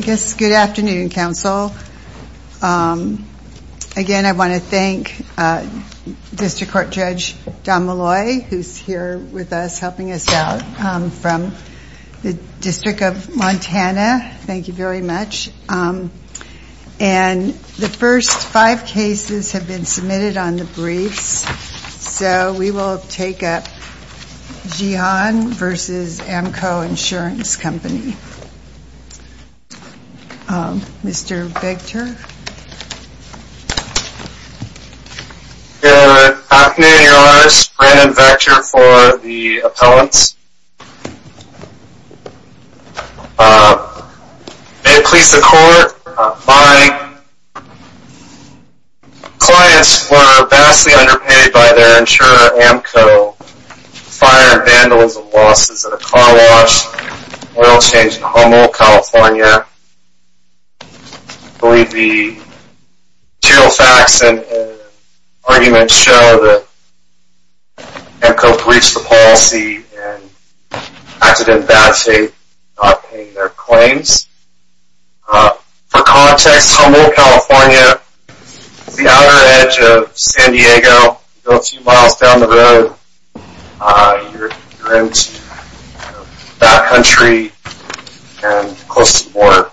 Good afternoon, Council. Again, I want to thank District Court Judge Don Malloy, who is here with us, helping us out, from the District of Montana. Thank you very much. And the first five cases have been submitted on the briefs, so we will take up Jihan, v. AMCO Insurance Company. Mr. Victor? Good afternoon, Your Honors. Brandon Vector for the appellants. May it please the Court, my clients were vastly underpaid by their insurer, AMCO. So, fire and vandals and losses at a car wash, oil change in Humboldt, California. I believe the material facts and arguments show that AMCO breached the policy and acted in bad faith, not paying their claims. For context, Humboldt, California is the outer edge of San Diego. A few miles down the road, you're into that country and close to the border.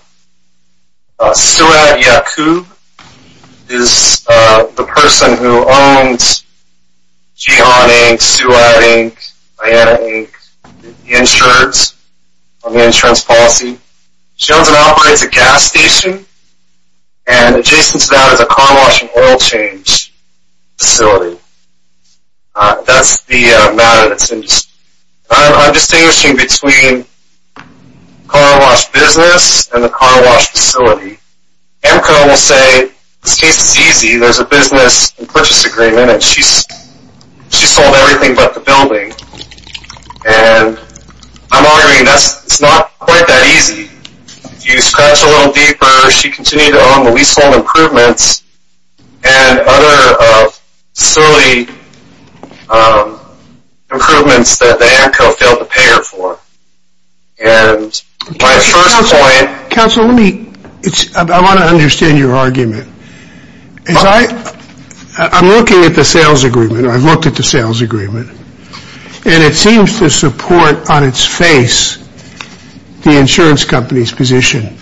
Suad Yacoub is the person who owns Jihan, Inc., Suad, Inc., Diana, Inc., Insurance, on the insurance policy. She owns and operates a gas station, and adjacent to that is a car wash and oil change facility. That's the matter that's in dispute. I'm distinguishing between car wash business and the car wash facility. AMCO will say this case is easy. There's a business and purchase agreement, and she sold everything but the building. I'm arguing that it's not quite that easy. If you scratch a little deeper, she continued to own the leasehold improvements and other facility improvements that AMCO failed to pay her for. I want to understand your argument. I'm looking at the sales agreement, and it seems to support on its face the insurance company's position.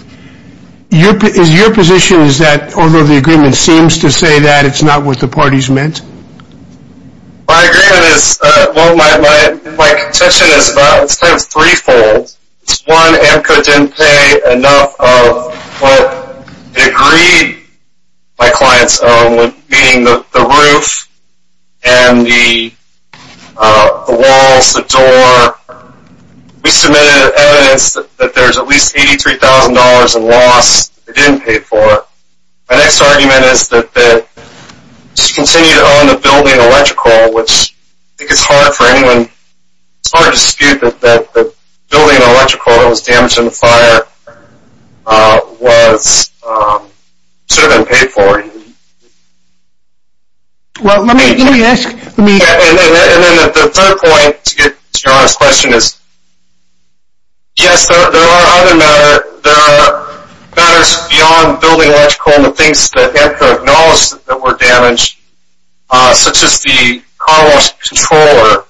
Your position is that although the agreement seems to say that, it's not what the parties meant? My contention is threefold. One, AMCO didn't pay enough of what they agreed my clients owned, meaning the roof, the walls, the door. We submitted evidence that there's at least $83,000 in loss they didn't pay for. My next argument is that she continued to own the building electrical, which I think it's hard for anyone to dispute that the building electrical that was damaged in the fire should have been paid for. The third point to get to your honest question is, yes, there are other matters beyond building electrical and the things that AMCO acknowledged that were damaged, such as the car wash controller,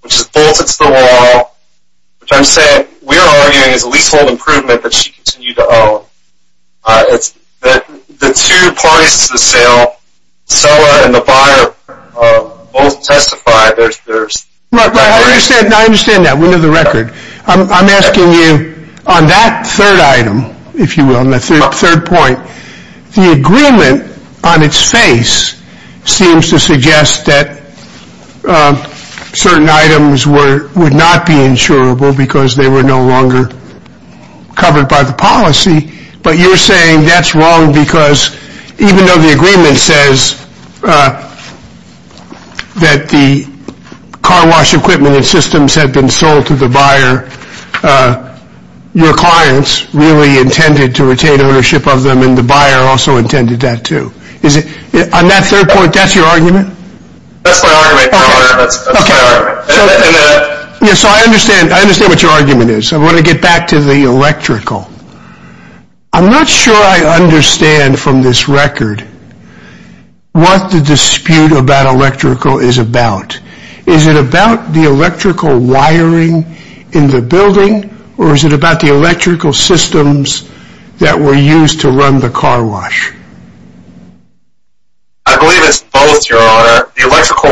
which is bolted to the wall, which I'm saying we're arguing is a leasehold improvement that she continued to own. The two parties to the sale, the seller and the buyer, both testified. I understand that. We know the record. I'm asking you on that third item, if you will, on the third point, the agreement on its face seems to suggest that certain items would not be insurable because they were no longer covered by the policy. But you're saying that's wrong because even though the agreement says that the car wash equipment and systems had been sold to the buyer, your clients really intended to retain ownership of them and the buyer also intended that too. On that third point, that's your argument? I understand what your argument is. I want to get back to the electrical. I'm not sure I understand from this record what the dispute about electrical is about. Is it about the electrical wiring in the building or is it about the electrical systems that were used to run the car wash? I believe it's both, your honor. How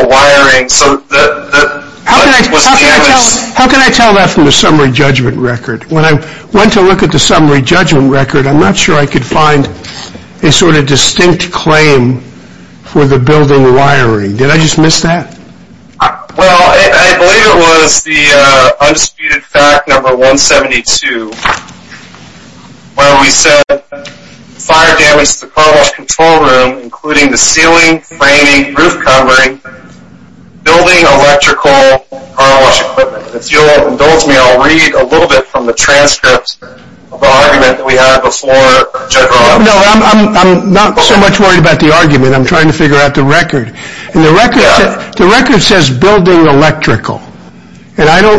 can I tell that from the summary judgment record? When I went to look at the summary judgment record, I'm not sure I could find a sort of distinct claim for the building wiring. Did I just miss that? Well, I believe it was the undisputed fact number 172 where we said fire damaged the car wash control room including the ceiling, framing, roof covering, building, electrical, car wash equipment. If you'll indulge me, I'll read a little bit from the transcripts of the argument that we had before. No, I'm not so much worried about the argument. I'm trying to figure out the record. The record says building electrical. I know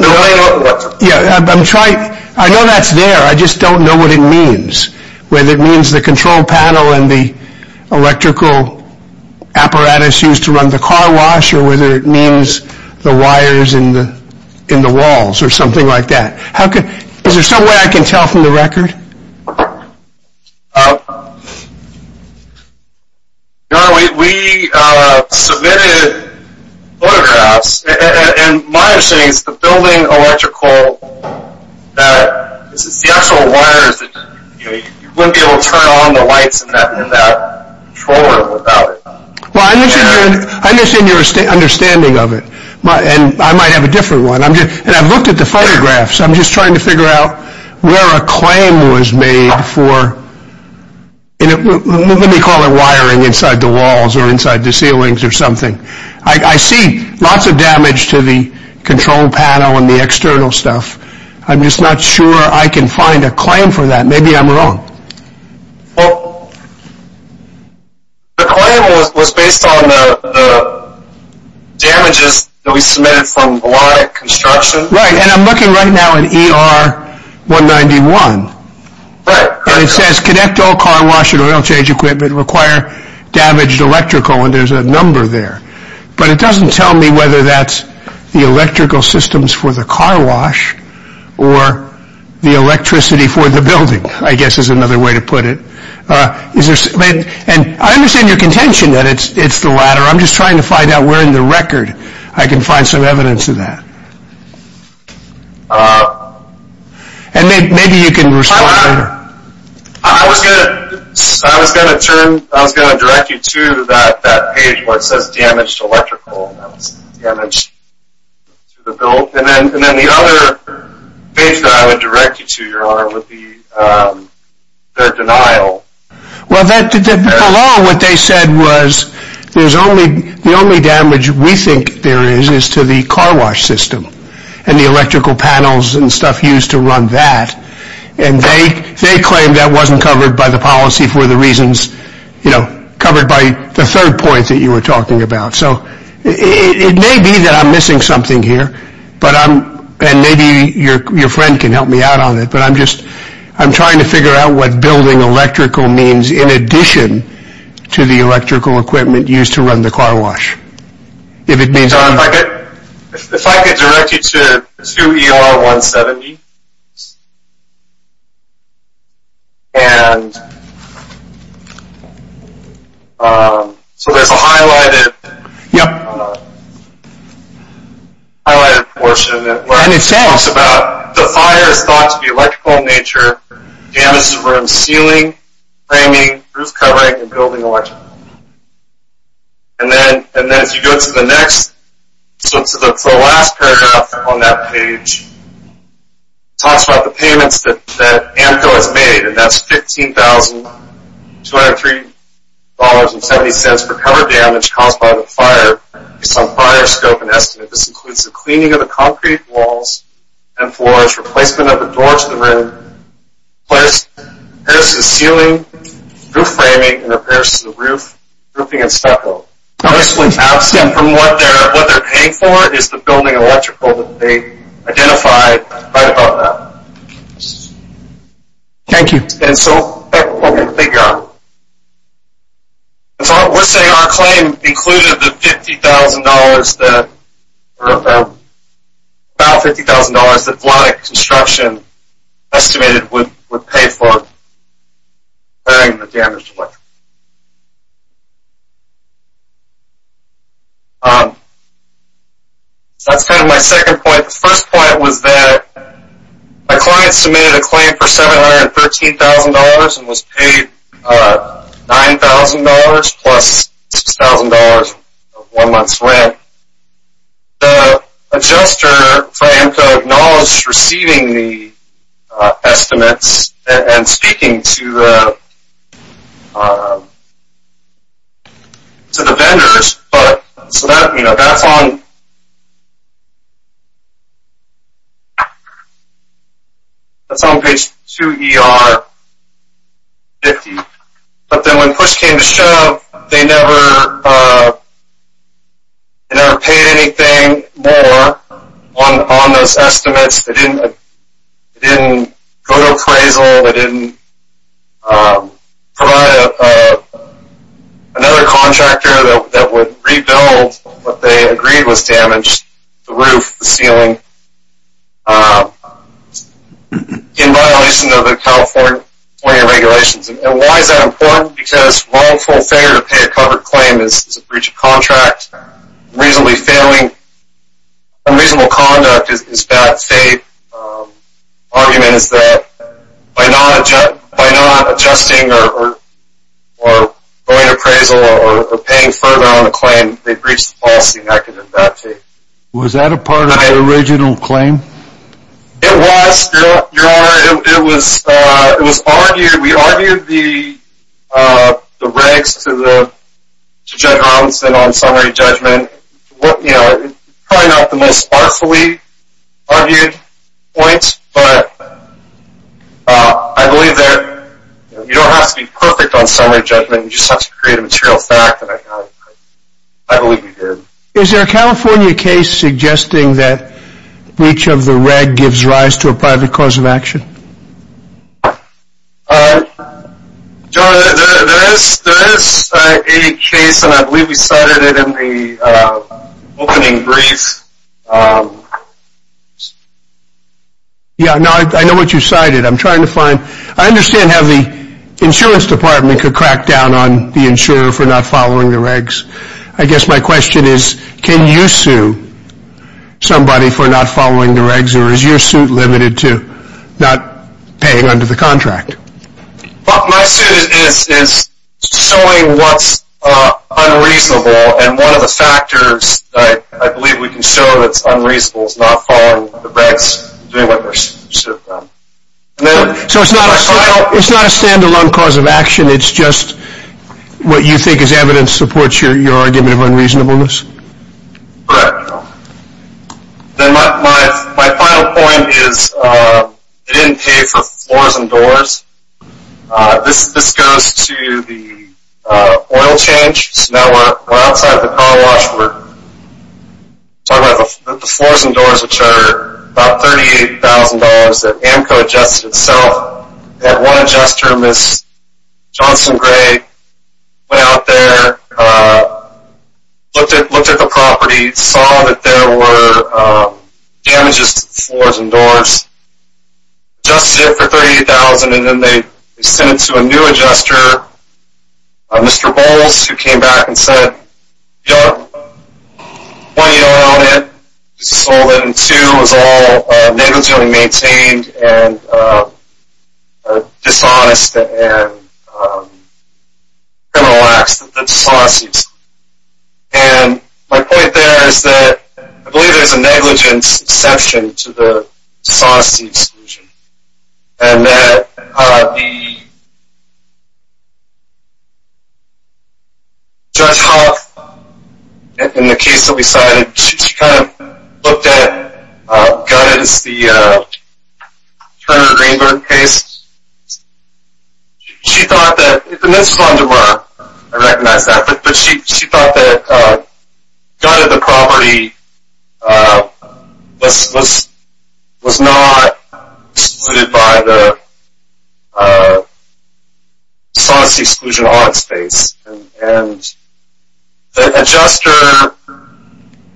that's there, I just don't know what it means. Whether it means the control panel and the electrical apparatus used to run the car wash or whether it means the wires in the walls or something like that. Is there some way I can tell from the record? Your honor, we submitted photographs and my understanding is the building electrical, the actual wires, you wouldn't be able to turn on the lights in that control room without it. Well, I understand your understanding of it and I might have a different one. I've looked at the photographs. I'm just trying to figure out where a claim was made for, let me call it wiring inside the walls or inside the ceilings or something. I see lots of damage to the control panel and the external stuff. I'm just not sure I can find a claim for that. Maybe I'm wrong. Well, the claim was based on the damages that we submitted from melodic construction. Right, and I'm looking right now at ER 191. Right. And it says connect all car wash and oil change equipment require damaged electrical and there's a number there. But it doesn't tell me whether that's the electrical systems for the car wash or the electricity for the building, I guess is another way to put it. And I understand your contention that it's the latter. I'm just trying to find out where in the record I can find some evidence of that. And maybe you can respond to that. I was going to direct you to that page where it says damaged electrical. And then the other page that I would direct you to, your honor, would be their denial. Well, along what they said was the only damage we think there is is to the car wash system and the electrical panels and stuff used to run that. And they claim that wasn't covered by the policy for the reasons, you know, covered by the third point that you were talking about. So it may be that I'm missing something here, and maybe your friend can help me out on it. But I'm just I'm trying to figure out what building electrical means in addition to the electrical equipment used to run the car wash. If I could direct you to 2ER170. So there's a highlighted portion that talks about the fire is thought to be electrical in nature, damage to the ceiling, framing, roof covering, and building electrical. And then if you go to the next, to the last paragraph on that page, it talks about the payments that AMCO has made. And that's $15,203.70 for cover damage caused by the fire. Based on fire scope and estimate, this includes the cleaning of the concrete walls and floors, replacement of the doors to the room, repairs to the ceiling, roof framing, and repairs to the roof, roofing and stucco. Obviously, absent from what they're paying for is the building electrical that they identified right above that. Thank you. And so that's what we're going to figure out. We're saying our claim included the $50,000 that, about $50,000 that Vladeck Construction estimated would pay for repairing the damaged electrical. That's kind of my second point. The first point was that my client submitted a claim for $713,000 and was paid $9,000 plus $6,000 of one month's rent. The adjuster for AMCO acknowledged receiving the estimates and speaking to the vendors. That's on page 2 ER 50. But then when push came to shove, they never paid anything more on those estimates. They didn't go to appraisal, they didn't provide another contractor that would rebuild what they agreed was damaged, the roof, the ceiling, in violation of the California regulations. And why is that important? Because wrongful failure to pay a covered claim is a breach of contract. Reasonably failing, unreasonable conduct is bad faith. Argument is that by not adjusting or going to appraisal or paying further on a claim, they breached the policy. Was that a part of the original claim? It was, Your Honor. It was argued, we argued the regs to Judge Robinson on summary judgment. Probably not the most artfully argued point, but I believe that you don't have to be perfect on summary judgment, you just have to create a material fact, and I believe we did. Is there a California case suggesting that breach of the reg gives rise to a private cause of action? Your Honor, there is a case, and I believe we cited it in the opening brief. Yeah, I know what you cited. I'm trying to find, I understand how the insurance department could crack down on the insurer for not following the regs. I guess my question is, can you sue somebody for not following the regs, or is your suit limited to not paying under the contract? My suit is suing what's unreasonable, and one of the factors I believe we can show that's unreasonable is not following the regs. So it's not a stand-alone cause of action, it's just what you think is evidence supports your argument of unreasonableness? Correct, Your Honor. My final point is they didn't pay for floors and doors. This goes to the oil change. So now we're outside the car wash, we're talking about the floors and doors, which are about $38,000 that AMCO adjusted itself. They had one adjuster, Ms. Johnson Gray, went out there, looked at the property, saw that there were damages to the floors and doors, adjusted it for $38,000, and then they sent it to a new adjuster, Mr. Bowles, who came back and said, Your Honor, one, you don't own it, you just sold it, and two, it was all negligently maintained and a dishonest and criminal act. That's dishonesty. And my point there is that I believe there's a negligence exception to the dishonesty exclusion, and that the Judge Hoff, in the case that we cited, she kind of looked at Gutted, it's the Turner Greenberg case. She thought that, and this is under her, I recognize that, but she thought that Gutted, the property, was not excluded by the dishonesty exclusion audit space. And the adjuster,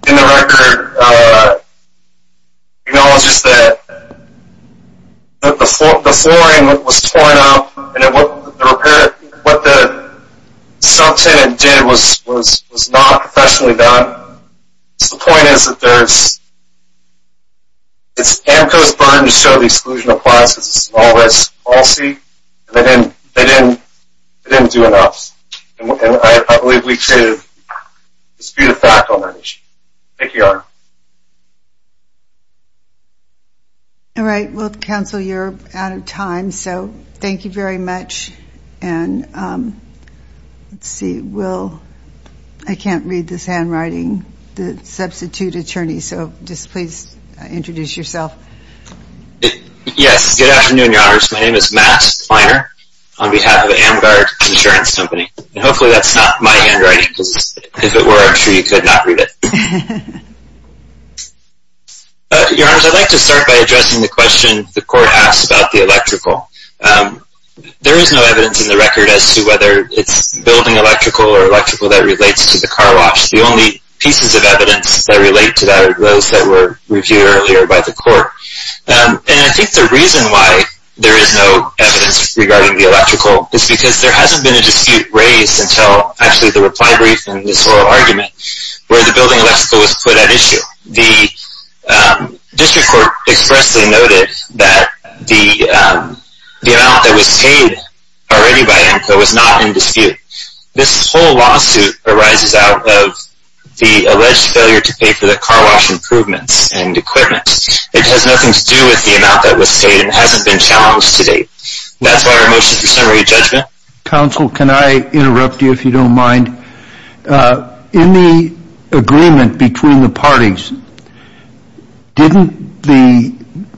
in the record, acknowledges that the flooring was torn up and what the subtenant did was not professionally done. The point is that there's, it's AMCO's burden to show the exclusion applies, it's a small risk policy, and they didn't do enough. And I believe we created a disputed fact on that issue. Thank you, Your Honor. All right. Well, Counsel, you're out of time, so thank you very much. And let's see, we'll, I can't read this handwriting, the substitute attorney, so just please introduce yourself. Yes. Good afternoon, Your Honors. My name is Matt Feiner on behalf of Amgard Insurance Company. And hopefully that's not my handwriting, because if it were, I'm sure you could not read it. Your Honors, I'd like to start by addressing the question the court asked about the electrical. There is no evidence in the record as to whether it's building electrical or electrical that relates to the car wash. The only pieces of evidence that relate to that are those that were reviewed earlier by the court. And I think the reason why there is no evidence regarding the electrical is because there hasn't been a dispute raised until actually the reply brief and this oral argument where the building electrical was put at issue. The district court expressly noted that the amount that was paid already by AMCA was not in dispute. This whole lawsuit arises out of the alleged failure to pay for the car wash improvements and equipment. It has nothing to do with the amount that was paid and hasn't been challenged to date. That's why our motion for summary judgment. Counsel, can I interrupt you if you don't mind? In the agreement between the parties, didn't the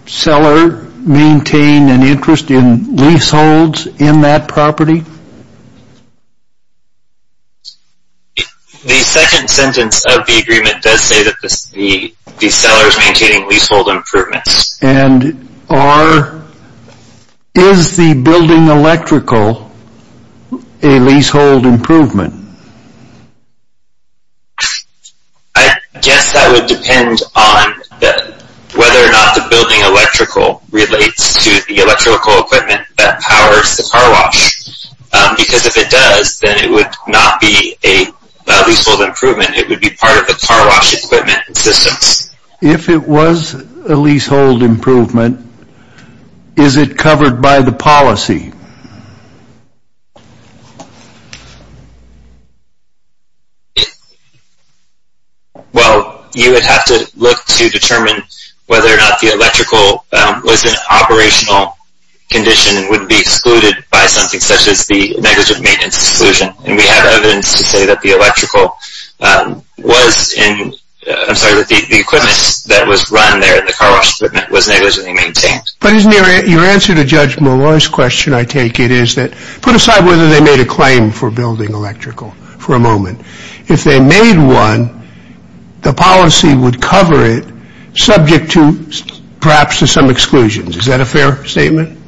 seller maintain an interest in leaseholds in that property? The second sentence of the agreement does say that the seller is maintaining leasehold improvements. And is the building electrical a leasehold improvement? I guess that would depend on whether or not the building electrical relates to the electrical equipment that powers the car wash. Because if it does, then it would not be a leasehold improvement. It would be part of the car wash equipment and systems. If it was a leasehold improvement, is it covered by the policy? Well, you would have to look to determine whether or not the electrical was an operational condition and would be excluded by something such as the negligent maintenance exclusion. We have evidence to say that the equipment that was run there, the car wash equipment, was negligently maintained. But isn't your answer to Judge Molloy's question, I take it, is that put aside whether they made a claim for building electrical for a moment. If they made one, the policy would cover it, subject perhaps to some exclusions. Is that a fair statement?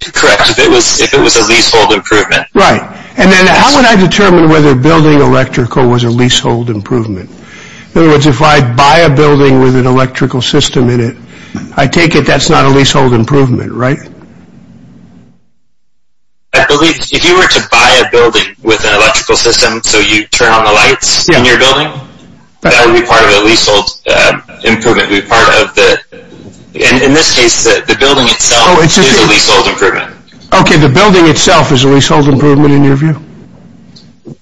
Correct, if it was a leasehold improvement. Right. And then how would I determine whether building electrical was a leasehold improvement? In other words, if I buy a building with an electrical system in it, I take it that's not a leasehold improvement, right? I believe if you were to buy a building with an electrical system so you turn on the lights in your building, that would be part of a leasehold improvement. In this case, the building itself is a leasehold improvement. Okay, the building itself is a leasehold improvement in your view?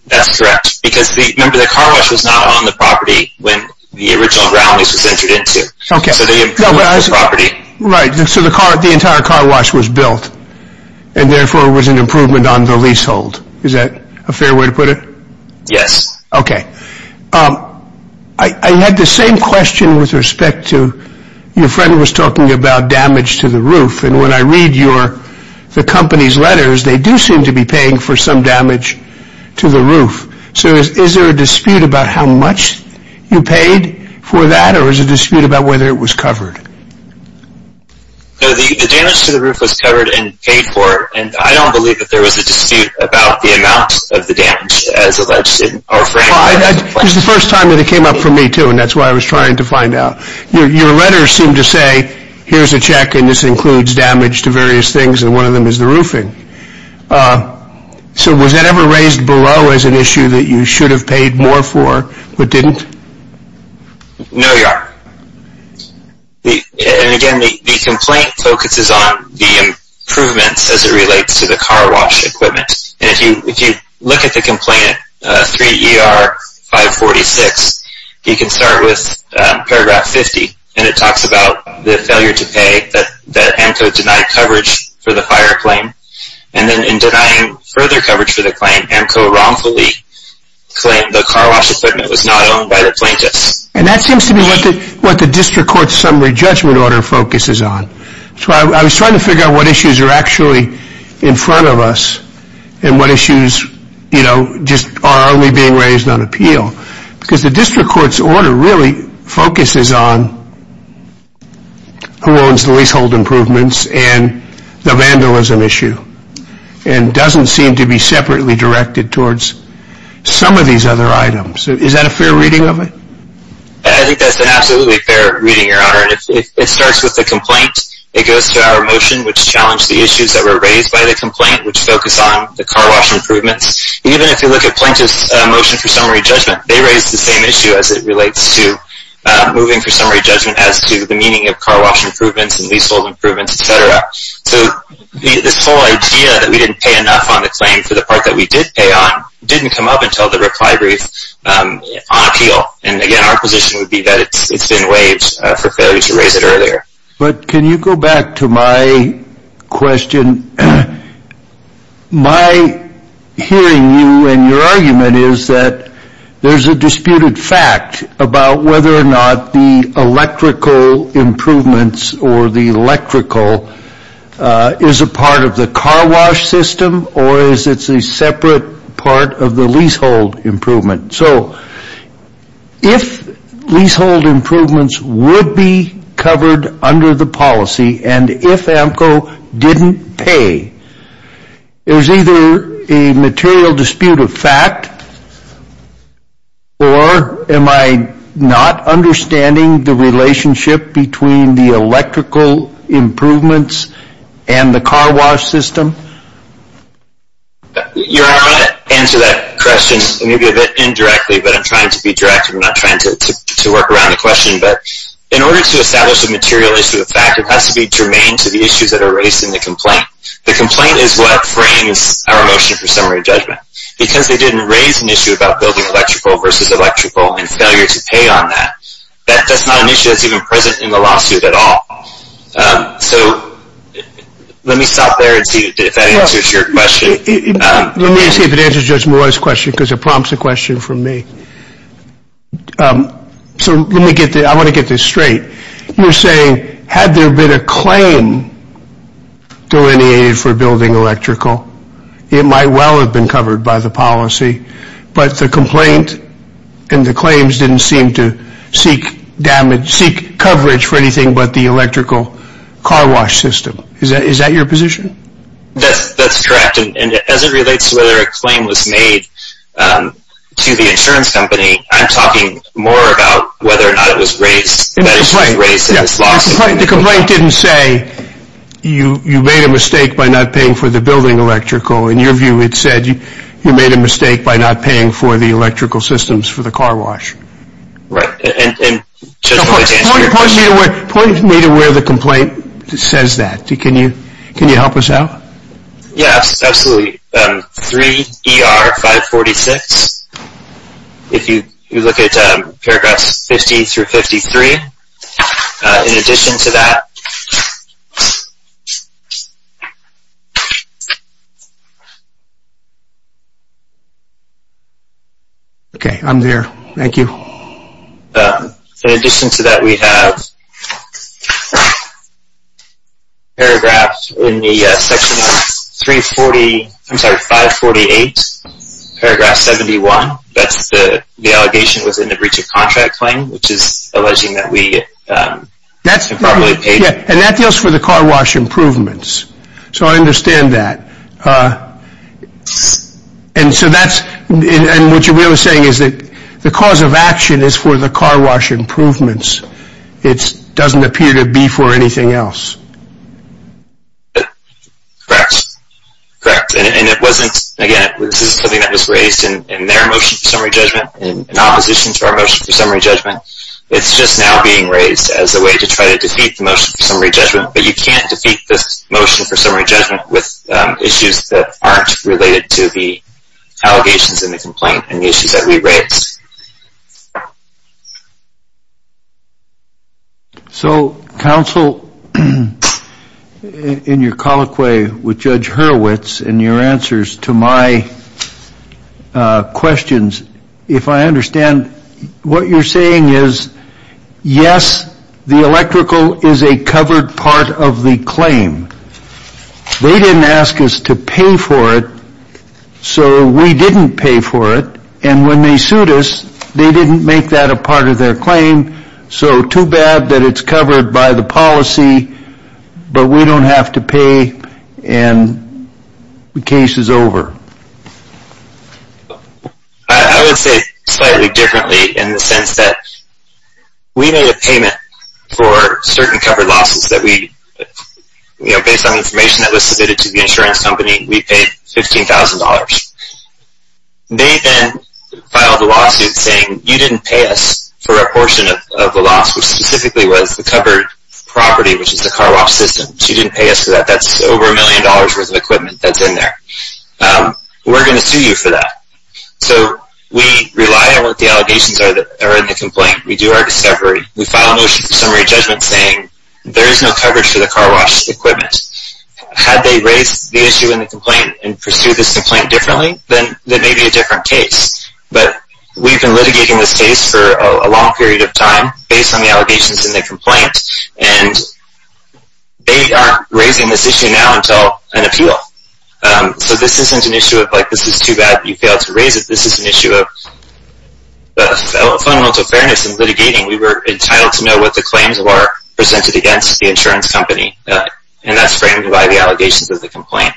That's correct, because remember the car wash was not on the property when the original ground lease was entered into. So the entire car wash was built and therefore was an improvement on the leasehold. Is that a fair way to put it? Yes. Okay. I had the same question with respect to your friend was talking about damage to the roof. And when I read the company's letters, they do seem to be paying for some damage to the roof. So is there a dispute about how much you paid for that or is it a dispute about whether it was covered? The damage to the roof was covered and paid for. I don't believe that there was a dispute about the amount of the damage as alleged in our framework. It was the first time that it came up for me too and that's why I was trying to find out. Your letters seem to say here's a check and this includes damage to various things and one of them is the roofing. So was that ever raised below as an issue that you should have paid more for but didn't? No, Your Honor. And again, the complaint focuses on the improvements as it relates to the car wash equipment. And if you look at the complaint, 3 ER 546, you can start with paragraph 50. And it talks about the failure to pay that AMCO denied coverage for the fire claim. And then in denying further coverage for the claim, AMCO wrongfully claimed the car wash equipment was not owned by the plaintiffs. And that seems to be what the district court's summary judgment order focuses on. That's why I was trying to figure out what issues are actually in front of us and what issues are only being raised on appeal. Because the district court's order really focuses on who owns the leasehold improvements and the vandalism issue and doesn't seem to be separately directed towards some of these other items. Is that a fair reading of it? I think that's an absolutely fair reading, Your Honor. It starts with the complaint. It goes to our motion which challenged the issues that were raised by the complaint which focus on the car wash improvements. Even if you look at plaintiff's motion for summary judgment, they raised the same issue as it relates to moving for summary judgment as to the meaning of car wash improvements and leasehold improvements, etc. So this whole idea that we didn't pay enough on the claim for the part that we did pay on didn't come up until the reply brief on appeal. And again, our position would be that it's been waived for failure to raise it earlier. But can you go back to my question? My hearing you and your argument is that there's a disputed fact about whether or not the electrical improvements or the electrical is a part of the car wash system or is it a separate part of the leasehold improvement. So if leasehold improvements would be covered under the policy and if AMCO didn't pay, there's either a material dispute of fact or am I not understanding the relationship between the electrical improvements and the car wash system? Your Honor, I'm going to answer that question maybe a bit indirectly, but I'm trying to be direct. I'm not trying to work around the question. But in order to establish a material issue of fact, it has to be germane to the issues that are raised in the complaint. The complaint is what frames our motion for summary judgment. Because they didn't raise an issue about building electrical versus electrical and failure to pay on that. That's not an issue that's even present in the lawsuit at all. So let me stop there and see if that answers your question. Let me see if it answers Judge Mora's question because it prompts a question from me. So let me get this straight. You're saying had there been a claim delineated for building electrical, it might well have been covered by the policy, but the complaint and the claims didn't seem to seek coverage for anything but the electrical car wash system. Is that your position? That's correct. And as it relates to whether a claim was made to the insurance company, I'm talking more about whether or not it was raised in the lawsuit. The complaint didn't say you made a mistake by not paying for the building electrical. In your view, it said you made a mistake by not paying for the electrical systems for the car wash. Right. And Judge Mora's answer to your question. Point me to where the complaint says that. Can you help us out? Yes, absolutely. 3 ER 546. If you look at paragraphs 50 through 53, in addition to that. Okay, I'm there. Thank you. In addition to that, we have paragraphs in the section 548, paragraph 71. That's the allegation within the breach of contract claim, which is alleging that we improperly paid. And that deals for the car wash improvements. So I understand that. And so that's, and what you're really saying is that the cause of action is for the car wash improvements. It doesn't appear to be for anything else. Correct. Correct. And it wasn't, again, this is something that was raised in their motion for summary judgment, in opposition to our motion for summary judgment. It's just now being raised as a way to try to defeat the motion for summary judgment. But you can't defeat this motion for summary judgment with issues that aren't related to the allegations in the complaint and the issues that we raised. So, counsel, in your colloquy with Judge Hurwitz and your answers to my questions, if I understand, what you're saying is, yes, the electrical is a covered part of the claim. They didn't ask us to pay for it, so we didn't pay for it. And when they sued us, they didn't make that a part of their claim. So too bad that it's covered by the policy, but we don't have to pay and the case is over. I would say slightly differently in the sense that we made a payment for certain covered losses that we, you know, based on information that was submitted to the insurance company, we paid $15,000. They then filed a lawsuit saying, you didn't pay us for a portion of the loss, which specifically was the covered property, which is the car wash system. So you didn't pay us for that. That's over a million dollars' worth of equipment that's in there. We're going to sue you for that. So we rely on what the allegations are in the complaint. We do our discovery. We file a motion for summary judgment saying, there is no coverage for the car wash equipment. Had they raised the issue in the complaint and pursued this complaint differently, then there may be a different case. But we've been litigating this case for a long period of time based on the allegations in the complaint, and they aren't raising this issue now until an appeal. So this isn't an issue of, like, this is too bad you failed to raise it. This is an issue of fundamental fairness in litigating. We were entitled to know what the claims were presented against the insurance company, and that's framed by the allegations of the complaint.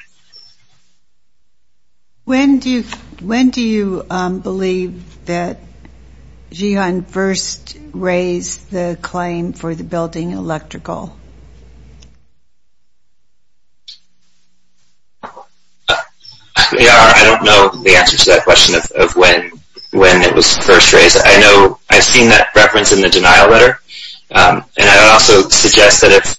When do you believe that GEON first raised the claim for the building electrical? I don't know the answer to that question of when it was first raised. I know I've seen that reference in the denial letter, and I would also suggest that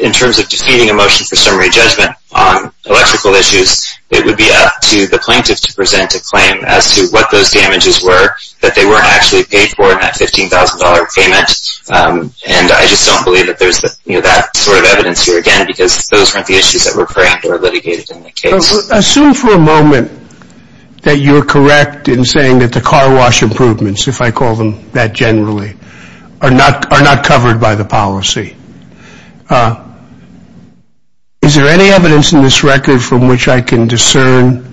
in terms of defeating a motion for summary judgment on electrical issues, it would be up to the plaintiff to present a claim as to what those damages were that they weren't actually paid for in that $15,000 payment, and I just don't believe that there's that sort of evidence here again because those weren't the issues that were framed or litigated in the case. Assume for a moment that you're correct in saying that the car wash improvements, if I call them that generally, are not covered by the policy. Is there any evidence in this record from which I can discern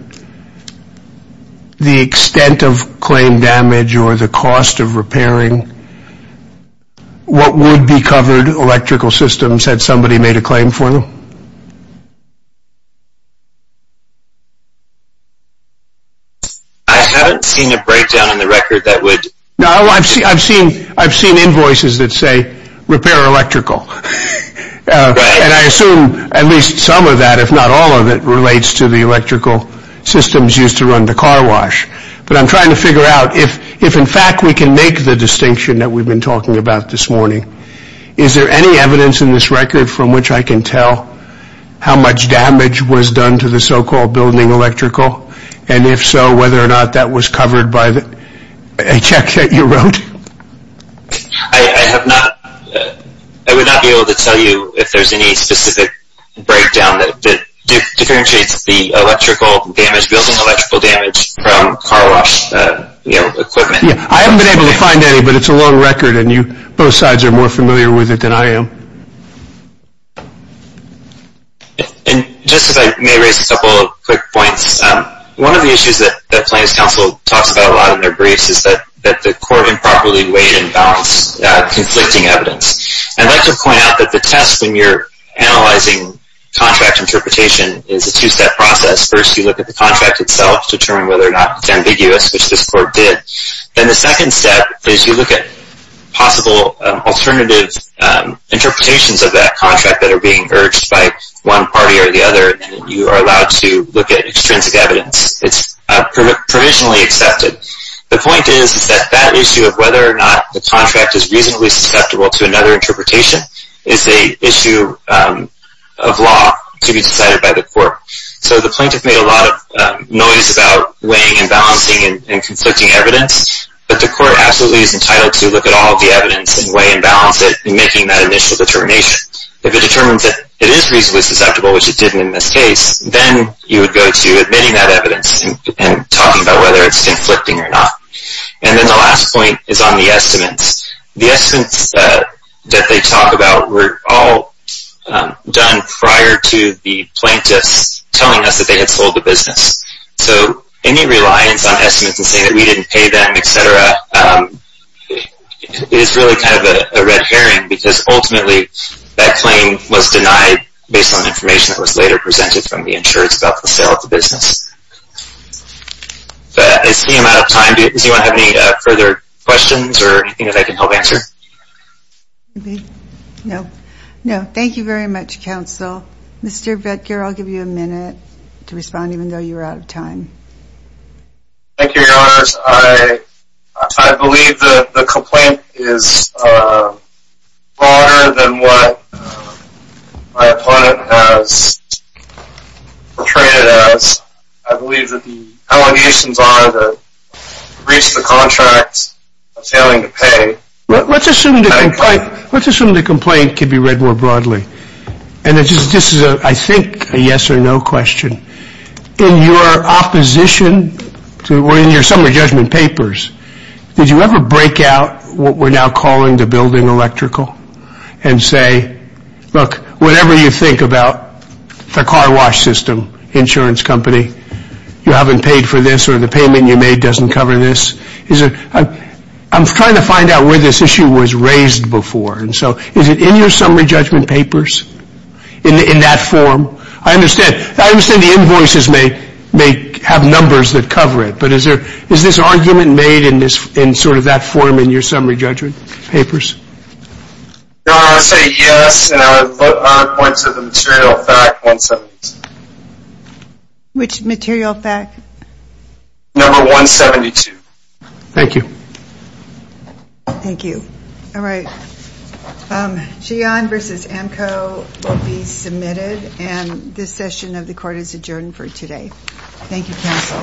the extent of claim damage or the cost of repairing what would be covered electrical systems had somebody made a claim for them? I haven't seen a breakdown in the record that would... No, I've seen invoices that say repair electrical, and I assume at least some of that, if not all of it, relates to the electrical systems used to run the car wash, but I'm trying to figure out if in fact we can make the distinction that we've been talking about this morning, is there any evidence in this record from which I can tell how much damage was done to the so-called building electrical, and if so, whether or not that was covered by a check that you wrote? I would not be able to tell you if there's any specific breakdown that differentiates the electrical damage, building electrical damage, from car wash equipment. I haven't been able to find any, but it's a long record, and both sides are more familiar with it than I am. Just as I may raise a couple of quick points, one of the issues that Plaintiffs' Counsel talks about a lot in their briefs is that the court improperly weighed and balanced conflicting evidence. I'd like to point out that the test when you're analyzing contract interpretation is a two-step process. First, you look at the contract itself to determine whether or not it's ambiguous, which this court did. Then the second step is you look at possible alternative interpretations of that contract that are being urged by one party or the other, and you are allowed to look at extrinsic evidence. It's provisionally accepted. The point is that that issue of whether or not the contract is reasonably susceptible to another interpretation So the plaintiff made a lot of noise about weighing and balancing and conflicting evidence, but the court absolutely is entitled to look at all the evidence and weigh and balance it and making that initial determination. If it determines that it is reasonably susceptible, which it didn't in this case, then you would go to admitting that evidence and talking about whether it's conflicting or not. And then the last point is on the estimates. The estimates that they talk about were all done prior to the plaintiffs telling us that they had sold the business. So any reliance on estimates and saying that we didn't pay them, etc., is really kind of a red herring because ultimately that claim was denied based on information that was later presented from the insurance about the sale of the business. I see I'm out of time. Does anyone have any further questions or anything that I can help answer? No. No. Thank you very much, counsel. Mr. Vetgear, I'll give you a minute to respond even though you're out of time. Thank you, Your Honors. I believe that the complaint is broader than what my opponent has portrayed it as. I believe that the allegations are that we reached the contract of failing to pay. Let's assume the complaint can be read more broadly, and this is, I think, a yes or no question. In your opposition or in your summary judgment papers, did you ever break out what we're now calling the building electrical and say, look, whatever you think about the car wash system, insurance company, you haven't paid for this or the payment you made doesn't cover this? I'm trying to find out where this issue was raised before. And so is it in your summary judgment papers in that form? I understand. I understand the invoices may have numbers that cover it, but is this argument made in sort of that form in your summary judgment papers? Your Honor, I say yes, and I would put my point to the material fact, 172. Which material fact? Number 172. Thank you. Thank you. All right. Gian versus Amco will be submitted, and this session of the court is adjourned for today. Thank you, counsel. Thank you, Your Honor.